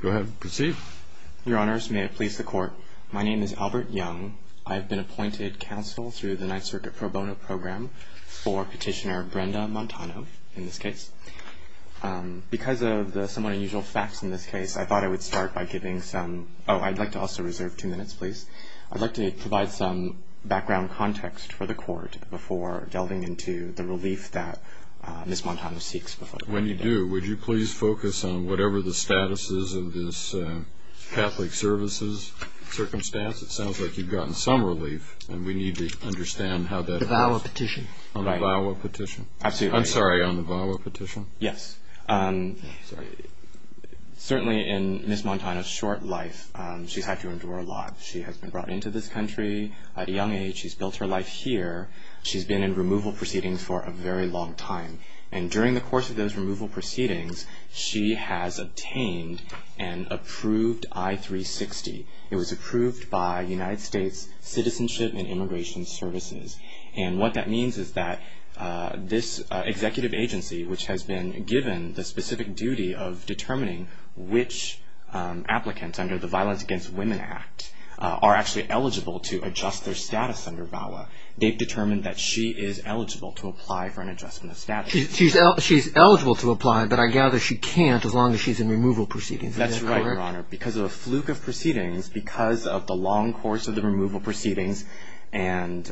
Go ahead, proceed. Your Honors, may I please the Court? My name is Albert Young. I've been appointed counsel through the Ninth Circuit Pro Bono Program for Petitioner Brenda Montano, in this case. Because of the somewhat unusual facts in this case, I thought I would start by giving some... Oh, I'd like to also reserve two minutes, please. I'd like to provide some background context for the Court before delving into the relief that Ms. Montano seeks before the Court. When you do, would you please focus on whatever the status is of this Catholic Services circumstance? It sounds like you've gotten some relief, and we need to understand how that works. The VAWA petition. On the VAWA petition? Absolutely. I'm sorry, on the VAWA petition? Yes. Certainly in Ms. Montano's short life, she's had to endure a lot. She has been brought into this country at a young age. She's built her life here. She's been in removal proceedings for a very long time. And during the course of those removal proceedings, she has obtained an approved I-360. It was approved by United States Citizenship and Immigration Services. And what that means is that this executive agency, which has been given the specific duty of determining which applicants under the Violence Against Women Act are actually eligible to adjust their status under VAWA, they've determined that she is eligible to apply for an adjustment of status. She's eligible to apply, but I gather she can't as long as she's in removal proceedings. Is that correct? That's right, Your Honor. Because of the fluke of proceedings, because of the long course of the removal proceedings, and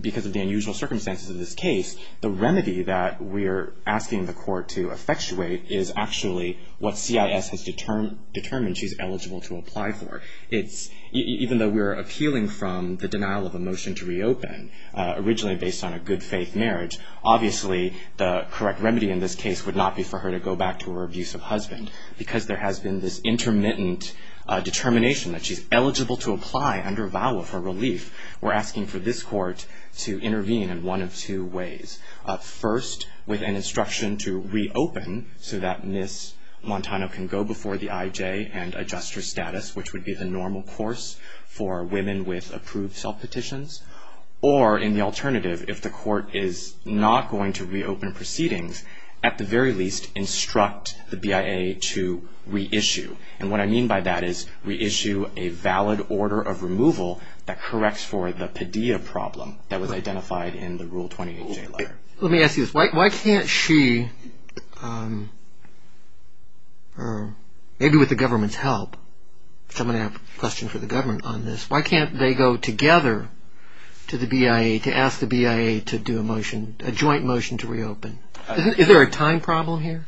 because of the unusual circumstances of this case, the remedy that we're asking the Court to effectuate is actually what CIS has determined she's eligible to apply for. Even though we're appealing from the denial of a motion to reopen, originally based on a good faith marriage, obviously the correct remedy in this case would not be for her to go back to her abusive husband because there has been this intermittent determination that she's eligible to apply under VAWA for relief. We're asking for this Court to intervene in one of two ways. First, with an instruction to reopen so that Ms. Montano can go before the IJ and adjust her status, which would be the normal course for women with approved self-petitions. Or, in the alternative, if the Court is not going to reopen proceedings, at the very least, instruct the BIA to reissue. And what I mean by that is reissue a valid order of removal that corrects for the Padilla problem that was identified in the Rule 28J letter. Let me ask you this. Why can't she, maybe with the government's help, because I'm going to have a question for the government on this, why can't they go together to the BIA to ask the BIA to do a motion, a joint motion to reopen? Is there a time problem here?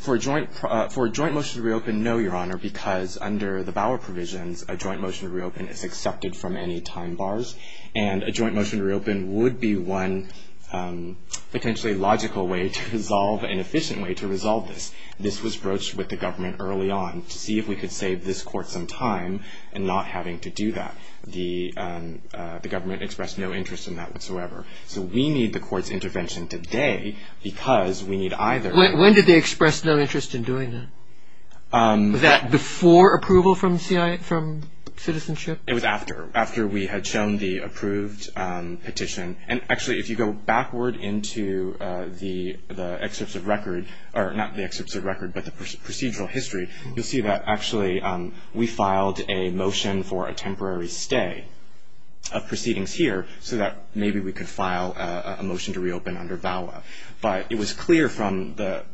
For a joint motion to reopen, no, Your Honor, because under the VAWA provisions, a joint motion to reopen is accepted from any time bars. And a joint motion to reopen would be one potentially logical way to resolve, an efficient way to resolve this. This was broached with the government early on to see if we could save this Court some time in not having to do that. The government expressed no interest in that whatsoever. So we need the Court's intervention today because we need either. When did they express no interest in doing that? Was that before approval from Citizenship? It was after, after we had shown the approved petition. And actually, if you go backward into the excerpts of record, or not the excerpts of record, but the procedural history, you'll see that actually we filed a motion for a temporary stay of proceedings here so that maybe we could file a motion to reopen under VAWA. But it was clear from the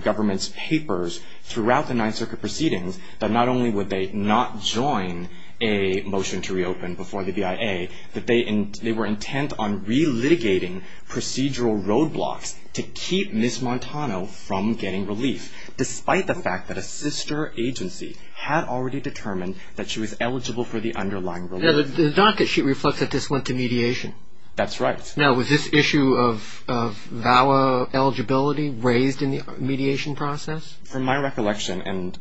government's papers throughout the Ninth Circuit proceedings that not only would they not join a motion to reopen before the BIA, that they were intent on relitigating procedural roadblocks to keep Ms. Montano from getting relief, despite the fact that a sister agency had already determined that she was eligible for the underlying relief. The docket sheet reflects that this went to mediation. That's right. Now, was this issue of VAWA eligibility raised in the mediation process? From my recollection, and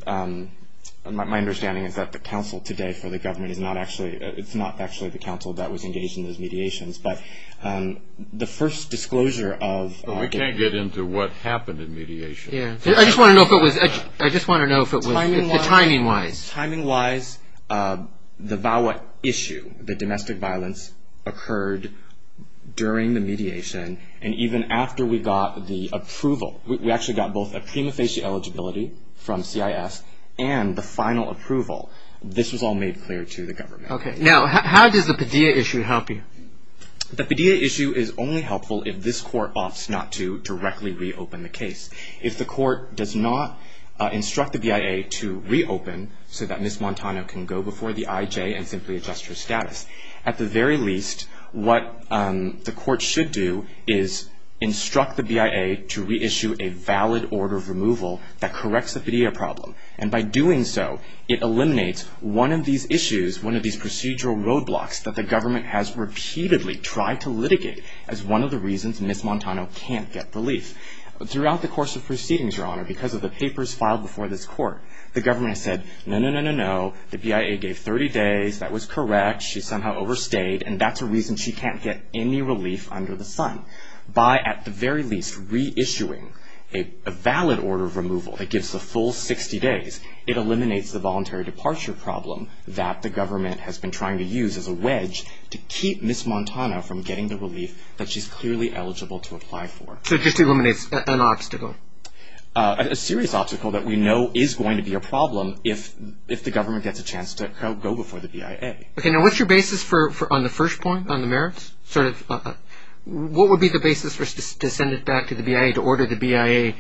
my understanding is that the council today for the government is not actually, it's not actually the council that was engaged in those mediations. But the first disclosure of... But we can't get into what happened in mediation. I just want to know if it was, timing-wise. Timing-wise, the VAWA issue, the domestic violence, occurred during the mediation. And even after we got the approval, we actually got both a prima facie eligibility from CIS and the final approval. This was all made clear to the government. Now, how does the Padilla issue help you? The Padilla issue is only helpful if this court opts not to directly reopen the case. If the court does not instruct the BIA to reopen so that Ms. Montano can go before the IJ and simply adjust her status, at the very least, what the court should do is instruct the BIA to reissue a valid order of removal that corrects the Padilla problem. And by doing so, it eliminates one of these issues, one of these procedural roadblocks that the government has repeatedly tried to litigate as one of the reasons Ms. Montano can't get relief. Throughout the course of proceedings, Your Honor, because of the papers filed before this court, the government said, no, no, no, no, no, the BIA gave 30 days, that was correct, she somehow overstayed, and that's a reason she can't get any relief under the sun. By, at the very least, reissuing a valid order of removal that gives the full 60 days, it eliminates the voluntary departure problem that the government has been trying to use as a wedge to keep Ms. Montano from getting the relief that she's clearly eligible to apply for. So it just eliminates an obstacle? A serious obstacle that we know is going to be a problem if the government gets a chance to go before the BIA. Okay, now what's your basis on the first point, on the merits? What would be the basis to send it back to the BIA, to order the BIA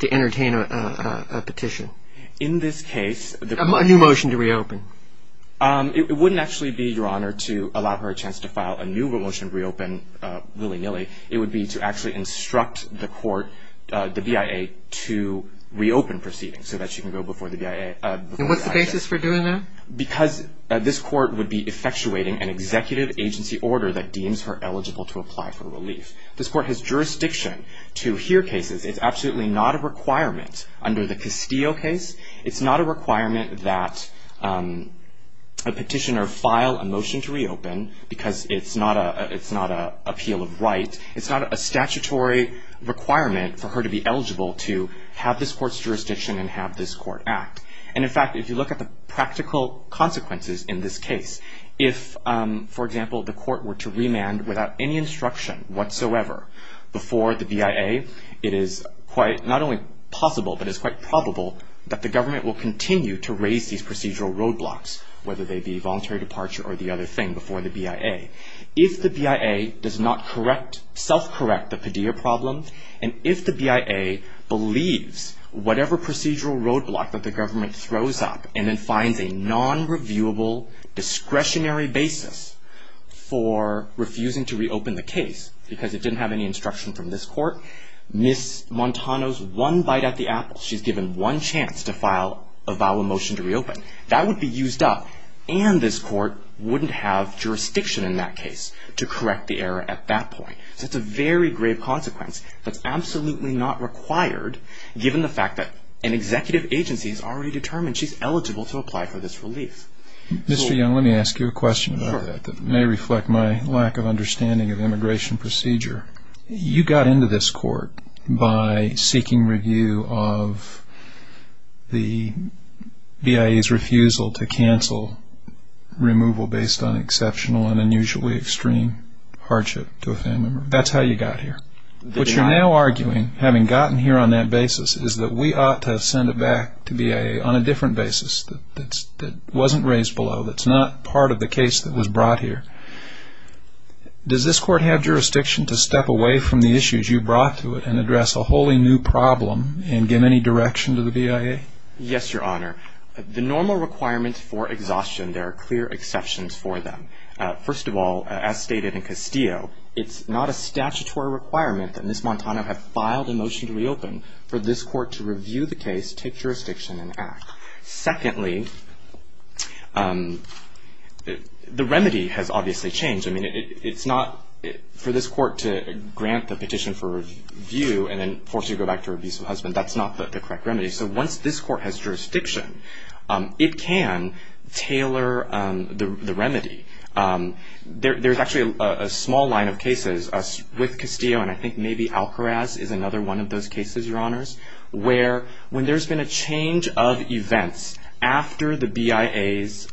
to entertain a petition? In this case... A new motion to reopen? It wouldn't actually be, Your Honor, to allow her a chance to file a new motion to reopen willy-nilly. It would be to actually instruct the court, the BIA, to reopen proceedings so that she can go before the BIA. And what's the basis for doing that? Because this court would be effectuating an executive agency order that deems her eligible to apply for relief. This court has jurisdiction to hear cases. It's absolutely not a requirement under the Castillo case. It's not a requirement that a petitioner file a motion to reopen because it's not an appeal of right. It's not a statutory requirement for her to be eligible to have this court's jurisdiction and have this court act. And in fact, if you look at the practical consequences in this case, if, for example, the court were to remand without any instruction whatsoever before the BIA, it is quite not only possible, but it's quite probable that the government will continue to raise these procedural roadblocks, whether they be voluntary departure or the other thing, before the BIA. If the BIA does not self-correct the Padilla problem, and if the BIA believes whatever procedural roadblock that the government throws up and then finds a non-reviewable discretionary basis for refusing to reopen the case because it didn't have any instruction from this court, Ms. Montano's one bite at the apple. She's given one chance to file a vial motion to reopen. That would be used up, and this court wouldn't have jurisdiction in that case to correct the error at that point. So it's a very grave consequence that's absolutely not required given the fact that an executive agency has already determined she's eligible to apply for this relief. Mr. Young, let me ask you a question about that that may reflect my lack of understanding of immigration procedure. You got into this court by seeking review of the BIA's refusal to cancel removal based on exceptional and unusually extreme hardship to a family member. That's how you got here. What you're now arguing, having gotten here on that basis, is that we ought to send it back to BIA on a different basis that wasn't raised below, that's not part of the case that was brought here. Does this court have jurisdiction to step away from the issues you brought to it and address a wholly new problem and give any direction to the BIA? Yes, Your Honor. The normal requirements for exhaustion, there are clear exceptions for them. First of all, as stated in Castillo, it's not a statutory requirement that Ms. Montano have filed a motion to reopen for this court to review the case, take jurisdiction, and act. Secondly, the remedy has obviously changed. I mean, it's not for this court to grant the petition for review and then force you to go back to her abusive husband. That's not the correct remedy. So once this court has jurisdiction, it can tailor the remedy. There's actually a small line of cases with Castillo, and I think maybe Alcaraz is another one of those cases, Your Honors, where when there's been a change of events after the BIA's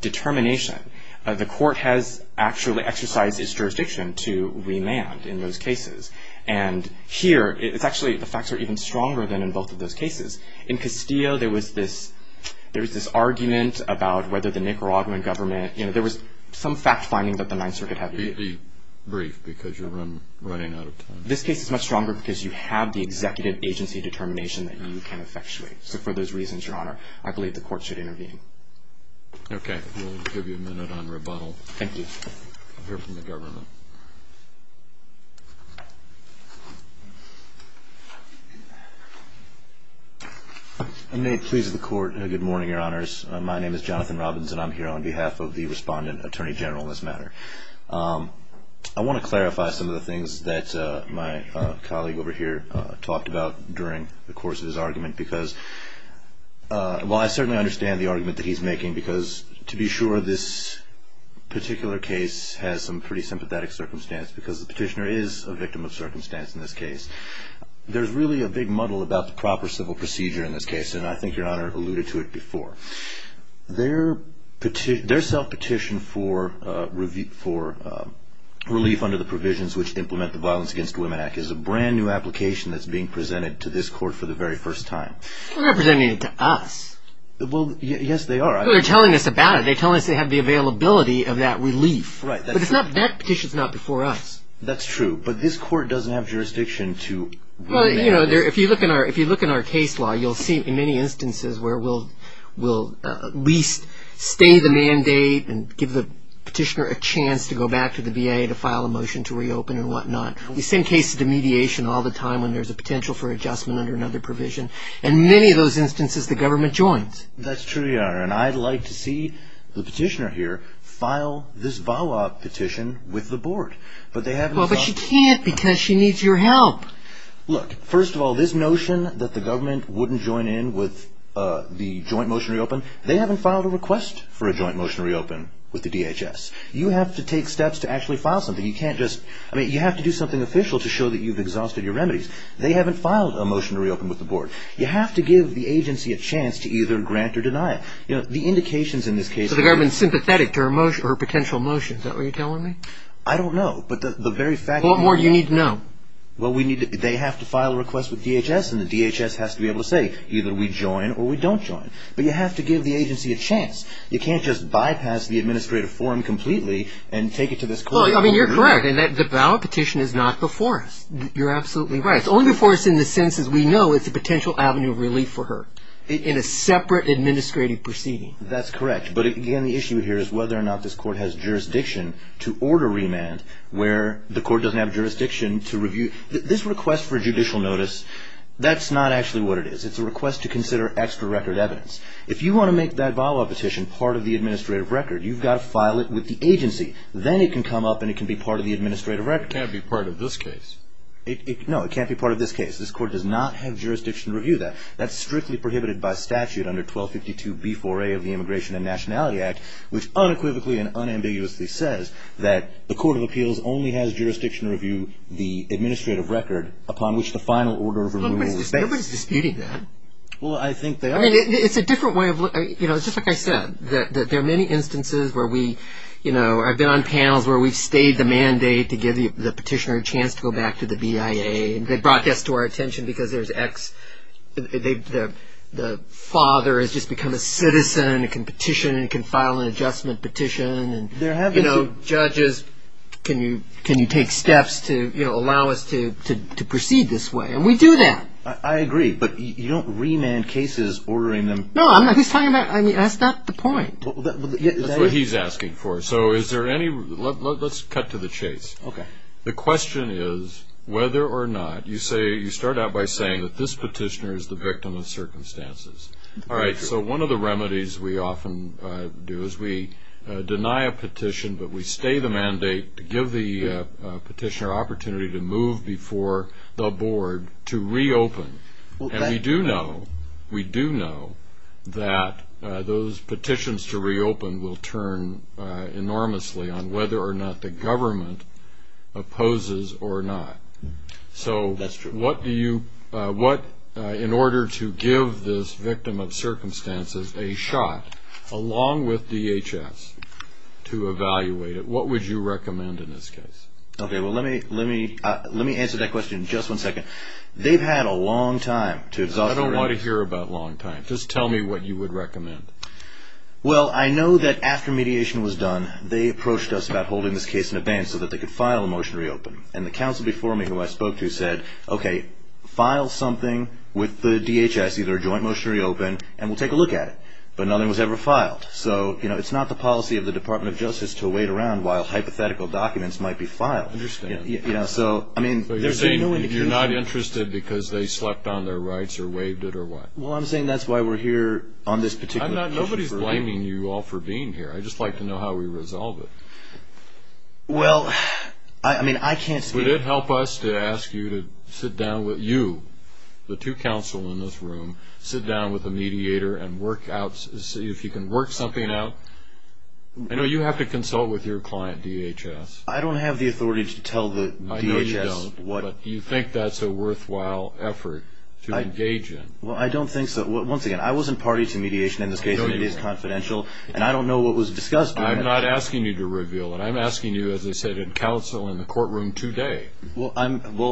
determination, the court has actually exercised its jurisdiction to remand in those cases. And here, it's actually the facts are even stronger than in both of those cases. In Castillo, there was this argument about whether the Nicaraguan government, you know, there was some fact finding that the Ninth Circuit had. Be brief because you're running out of time. This case is much stronger because you have the executive agency determination that you can effectuate. So for those reasons, Your Honor, I believe the court should intervene. Okay. We'll give you a minute on rebuttal. Thank you. We'll hear from the government. May it please the court, good morning, Your Honors. My name is Jonathan Robbins, and I'm here on behalf of the respondent attorney general in this matter. I want to clarify some of the things that my colleague over here talked about during the course of his argument because while I certainly understand the argument that he's making, because to be sure, this particular case has some pretty sympathetic circumstance because the petitioner is a victim of circumstance in this case. There's really a big muddle about the proper civil procedure in this case, and I think Your Honor alluded to it before. Their self-petition for relief under the provisions which implement the Violence Against Women Act is a brand new application that's being presented to this court for the very first time. They're not presenting it to us. Well, yes, they are. They're telling us about it. They're telling us they have the availability of that relief. Right. But that petition's not before us. That's true. But this court doesn't have jurisdiction to... If you look in our case law, you'll see in many instances where we'll at least stay the mandate and give the petitioner a chance to go back to the VA to file a motion to reopen and whatnot. The same case of the mediation all the time when there's a potential for adjustment under another provision. In many of those instances, the government joins. That's true, Your Honor, and I'd like to see the petitioner here file this VAWA petition with the board. But she can't because she needs your help. Look, first of all, this notion that the government wouldn't join in with the joint motion to reopen, they haven't filed a request for a joint motion to reopen with the DHS. You have to take steps to actually file something. You can't just do something official to show that you've exhausted your remedies. They haven't filed a motion to reopen with the board. You have to give the agency a chance to either grant or deny it. The indications in this case... So the government's sympathetic to her potential motion. Is that what you're telling me? I don't know, but the very fact... What more do you need to know? Well, they have to file a request with DHS, and the DHS has to be able to say either we join or we don't join. But you have to give the agency a chance. You can't just bypass the administrative form completely and take it to this court. Well, I mean, you're correct in that the VAWA petition is not before us. You're absolutely right. It's only before us in the sense that we know it's a potential avenue of relief for her in a separate administrative proceeding. That's correct. But again, the issue here is whether or not this court has jurisdiction to order remand where the court doesn't have jurisdiction to review. This request for judicial notice, that's not actually what it is. It's a request to consider extra record evidence. If you want to make that VAWA petition part of the administrative record, you've got to file it with the agency. Then it can come up and it can be part of the administrative record. It can't be part of this case. No, it can't be part of this case. This court does not have jurisdiction to review that. That's strictly prohibited by statute under 1252B4A of the Immigration and Nationality Act, which unequivocally and unambiguously says that the Court of Appeals only has jurisdiction to review the administrative record upon which the final order of remand was based. Nobody's disputing that. Well, I think they are. It's a different way of looking at it. Just like I said, there are many instances where we've been on panels where we've stayed the mandate to give the petitioner a chance to go back to the BIA. They brought this to our attention because the father has just become a citizen and can petition and can file an adjustment petition. Judges, can you take steps to allow us to proceed this way? And we do that. I agree. But you don't remand cases ordering them. No, I'm not. That's not the point. That's what he's asking for. So let's cut to the chase. Okay. The question is whether or not you start out by saying that this petitioner is the victim of circumstances. All right, so one of the remedies we often do is we deny a petition, but we stay the mandate to give the petitioner an opportunity to move before the board to reopen. And we do know that those petitions to reopen will turn enormously on whether or not the government opposes or not. So in order to give this victim of circumstances a shot along with DHS to evaluate it, what would you recommend in this case? Okay, well, let me answer that question in just one second. They've had a long time to exonerate. I don't want to hear about long time. Just tell me what you would recommend. Well, I know that after mediation was done, they approached us about holding this case in abeyance so that they could file a motion to reopen. And the counsel before me, who I spoke to, said, okay, file something with the DHS, either a joint motion to reopen, and we'll take a look at it. But nothing was ever filed. So, you know, it's not the policy of the Department of Justice to wait around while hypothetical documents might be filed. I understand. You know, so, I mean, there's no indication. So you're saying you're not interested because they slept on their rights or waived it or what? Well, I'm saying that's why we're here on this particular issue. Nobody's blaming you all for being here. I'd just like to know how we resolve it. Well, I mean, I can't speak to that. Would it help us to ask you to sit down with you, the two counsel in this room, sit down with a mediator and work out, see if you can work something out? I know you have to consult with your client, DHS. I don't have the authority to tell the DHS. I know you don't, but do you think that's a worthwhile effort to engage in? Well, I don't think so. Once again, I wasn't party to mediation in this case. It is confidential, and I don't know what was discussed. I'm not asking you to reveal it. I'm asking you, as I said, in counsel in the courtroom today. Well,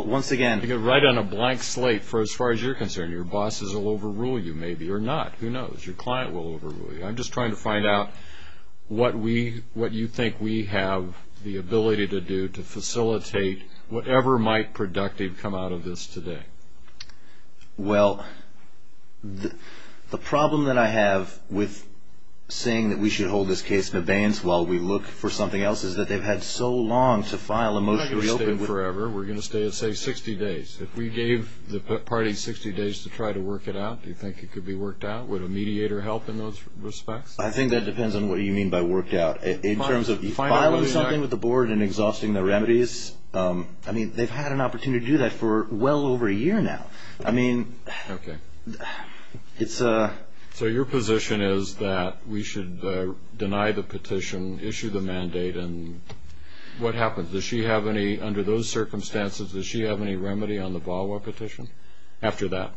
once again. To get right on a blank slate for as far as you're concerned. Your bosses will overrule you, maybe, or not. Who knows? Your client will overrule you. I'm just trying to find out what you think we have the ability to do to facilitate whatever might productive come out of this today. Well, the problem that I have with saying that we should hold this case in abeyance while we look for something else is that they've had so long to file a motion to reopen. We're not going to stay forever. We're going to stay, say, 60 days. If we gave the party 60 days to try to work it out, do you think it could be worked out? Would a mediator help in those respects? I think that depends on what you mean by worked out. In terms of filing something with the board and exhausting the remedies, they've had an opportunity to do that for well over a year now. So your position is that we should deny the petition, issue the mandate, and what happens? Does she have any, under those circumstances, does she have any remedy on the VAWA petition after that?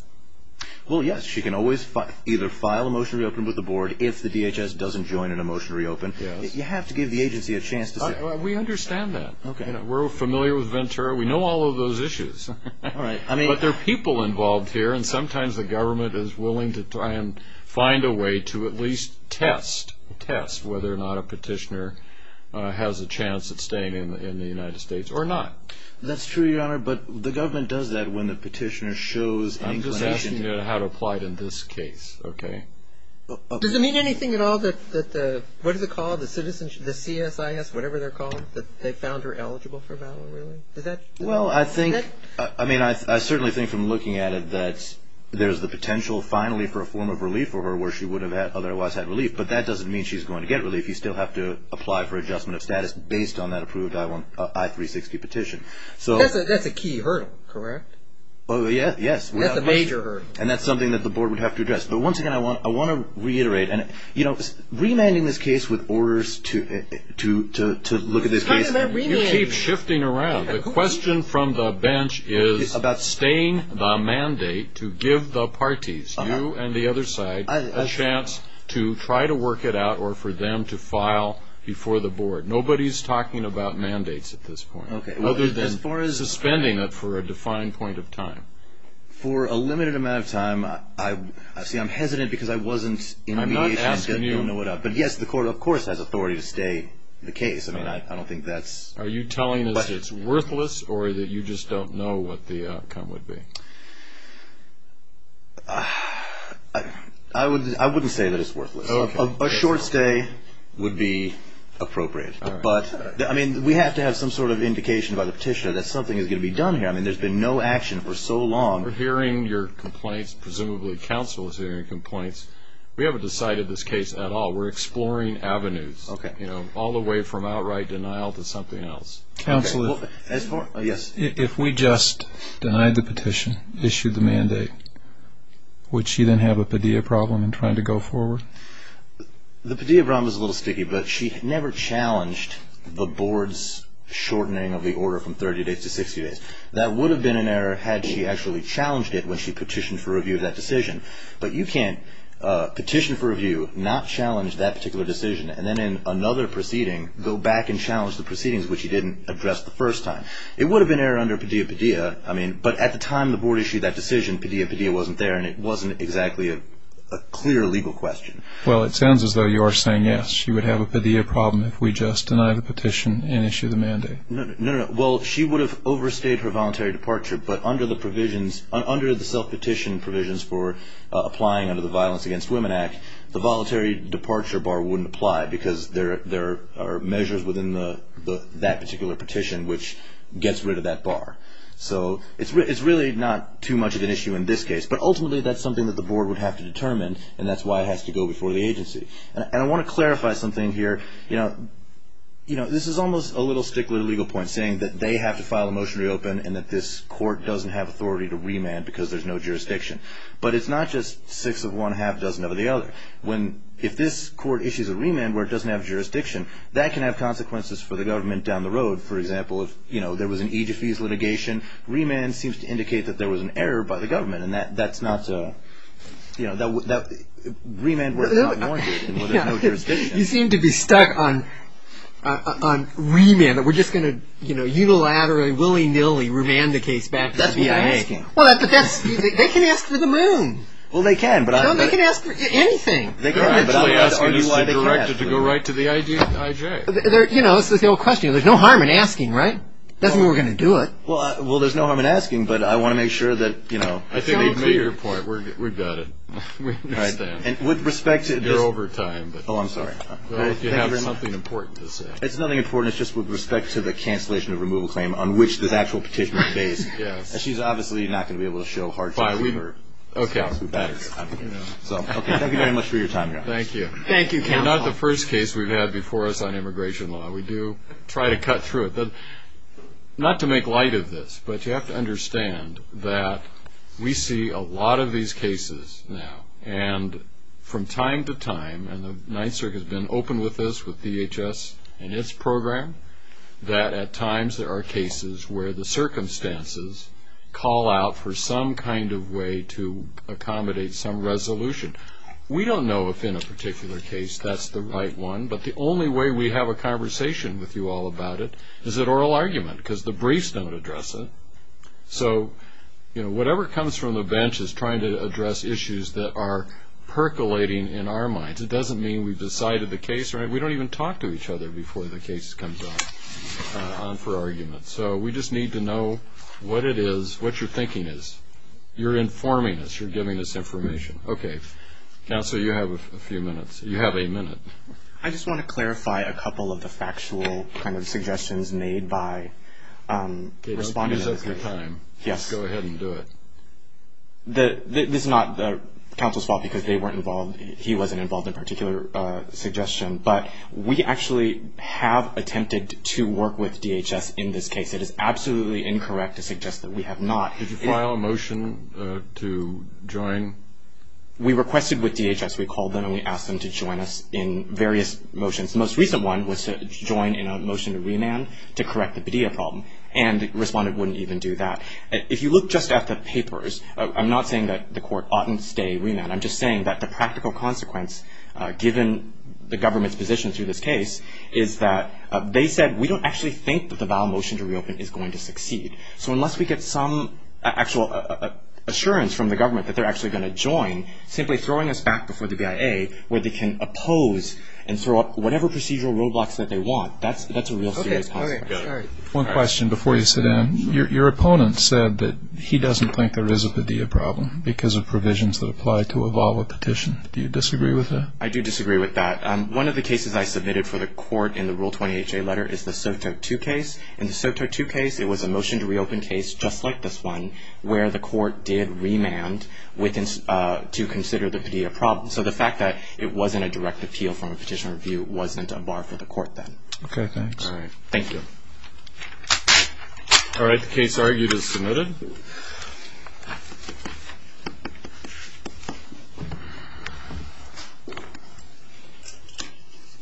Well, yes. She can always either file a motion to reopen with the board if the DHS doesn't join in a motion to reopen. You have to give the agency a chance to say, We understand that. We're familiar with Ventura. We know all of those issues. But there are people involved here, and sometimes the government is willing to try and find a way to at least test, test whether or not a petitioner has a chance at staying in the United States or not. That's true, Your Honor, but the government does that when the petitioner shows inclination. I'm just asking you how to apply it in this case, okay? Does it mean anything at all that the, what is it called, the CSIS, whatever they're called, that they found her eligible for VAWA, really? Well, I think, I mean, I certainly think from looking at it that there's the potential, finally, for a form of relief for her where she would have otherwise had relief, but that doesn't mean she's going to get relief. You still have to apply for adjustment of status based on that approved I-360 petition. That's a key hurdle, correct? Yes. That's a major hurdle. And that's something that the board would have to address. But once again, I want to reiterate, and, you know, remanding this case with orders to look at this case. You keep shifting around. The question from the bench is about staying the mandate to give the parties, you and the other side, a chance to try to work it out or for them to file before the board. Nobody's talking about mandates at this point. Okay. As far as the spending for a defined point of time. For a limited amount of time. See, I'm hesitant because I wasn't in mediation. I'm not asking you. But, yes, the court, of course, has authority to stay the case. I mean, I don't think that's. Are you telling us it's worthless or that you just don't know what the outcome would be? I wouldn't say that it's worthless. Okay. A short stay would be appropriate. But, I mean, we have to have some sort of indication by the petitioner that something is going to be done here. I mean, there's been no action for so long. We're hearing your complaints. Presumably counsel is hearing your complaints. We haven't decided this case at all. We're exploring avenues. Okay. You know, all the way from outright denial to something else. Counsel, if we just denied the petition, issued the mandate, would she then have a Padilla problem in trying to go forward? The Padilla problem is a little sticky, but she never challenged the board's shortening of the order from 30 days to 60 days. That would have been an error had she actually challenged it when she petitioned for review of that decision. But you can't petition for review, not challenge that particular decision, and then in another proceeding go back and challenge the proceedings, which you didn't address the first time. It would have been an error under Padilla-Padilla. I mean, but at the time the board issued that decision, Padilla-Padilla wasn't there, and it wasn't exactly a clear legal question. Well, it sounds as though you are saying yes, she would have a Padilla problem if we just denied the petition and issued the mandate. No, no, no. Well, she would have overstayed her voluntary departure, but under the provisions, under the self-petition provisions for applying under the Violence Against Women Act, the voluntary departure bar wouldn't apply because there are measures within that particular petition which gets rid of that bar. So it's really not too much of an issue in this case, but ultimately that's something that the board would have to determine, and that's why it has to go before the agency. And I want to clarify something here. You know, this is almost a little stickler to legal points, saying that they have to file a motion to reopen and that this court doesn't have authority to remand because there's no jurisdiction. But it's not just six of one, half-dozen of the other. If this court issues a remand where it doesn't have jurisdiction, that can have consequences for the government down the road. For example, if there was an Egyptese litigation, remand seems to indicate that there was an error by the government, and that's not to, you know, that remand was not warranted. You seem to be stuck on remand. We're just going to, you know, unilaterally, willy-nilly remand the case back to the FBI? That's what they're asking. Well, but that's, they can ask for the moon. Well, they can, but I'm not... No, they can ask for anything. They can, but I'm not asking you why they can't. Are you allowed to go right to the IJ? You know, this is the old question. There's no harm in asking, right? That's the way we're going to do it. Well, there's no harm in asking, but I want to make sure that, you know... I think they've made their point. We've got it. We understand. And with respect to... You're over time, but... Oh, I'm sorry. You have something important to say. It's nothing important. It's just with respect to the cancellation of removal claim on which this actual petition is based. Yes. And she's obviously not going to be able to show hard facts. We were... Okay. So, thank you very much for your time, guys. Thank you. Thank you, Ken. Not the first case we've had before us on immigration law. We do try to cut through it. Not to make light of this, but you have to understand that we see a lot of these cases now. And from time to time, and the Ninth Circuit has been open with this, with DHS and its program, that at times there are cases where the circumstances call out for some kind of way to accommodate some resolution. We don't know if in a particular case that's the right one, but the only way we have a conversation with you all about it is at oral argument because the briefs don't address it. So, you know, whatever comes from the bench is trying to address issues that are percolating in our minds. It doesn't mean we've decided the case. We don't even talk to each other before the case comes on for argument. So we just need to know what it is, what your thinking is. You're informing us. You're giving us information. Okay. Counsel, you have a few minutes. You have a minute. I just want to clarify a couple of the factual kind of suggestions made by respondents. Give us a good time. Yes. Go ahead and do it. This is not counsel's fault because they weren't involved. He wasn't involved in a particular suggestion. But we actually have attempted to work with DHS in this case. It is absolutely incorrect to suggest that we have not. Did you file a motion to join? We requested with DHS. We called them and we asked them to join us in various motions. The most recent one was to join in a motion to remand to correct the Padilla problem. And the respondent wouldn't even do that. If you look just at the papers, I'm not saying that the court oughtn't stay remand. I'm just saying that the practical consequence, given the government's position through this case, is that they said we don't actually think that the vow motion to reopen is going to succeed. So unless we get some actual assurance from the government that they're actually going to join, simply throwing us back before the BIA where they can oppose and throw up whatever procedural roadblocks that they want, that's a real serious consequence. One question before you sit down. Your opponent said that he doesn't think there is a Padilla problem because of provisions that apply to a vow or petition. Do you disagree with that? I do disagree with that. One of the cases I submitted for the court in the Rule 20HA letter is the SOTO2 case. In the SOTO2 case, it was a motion to reopen case just like this one where the court did remand to consider the Padilla problem. So the fact that it wasn't a direct appeal from a petitioner review wasn't a bar for the court then. Okay, thanks. All right, thank you. All right, the case argued is submitted.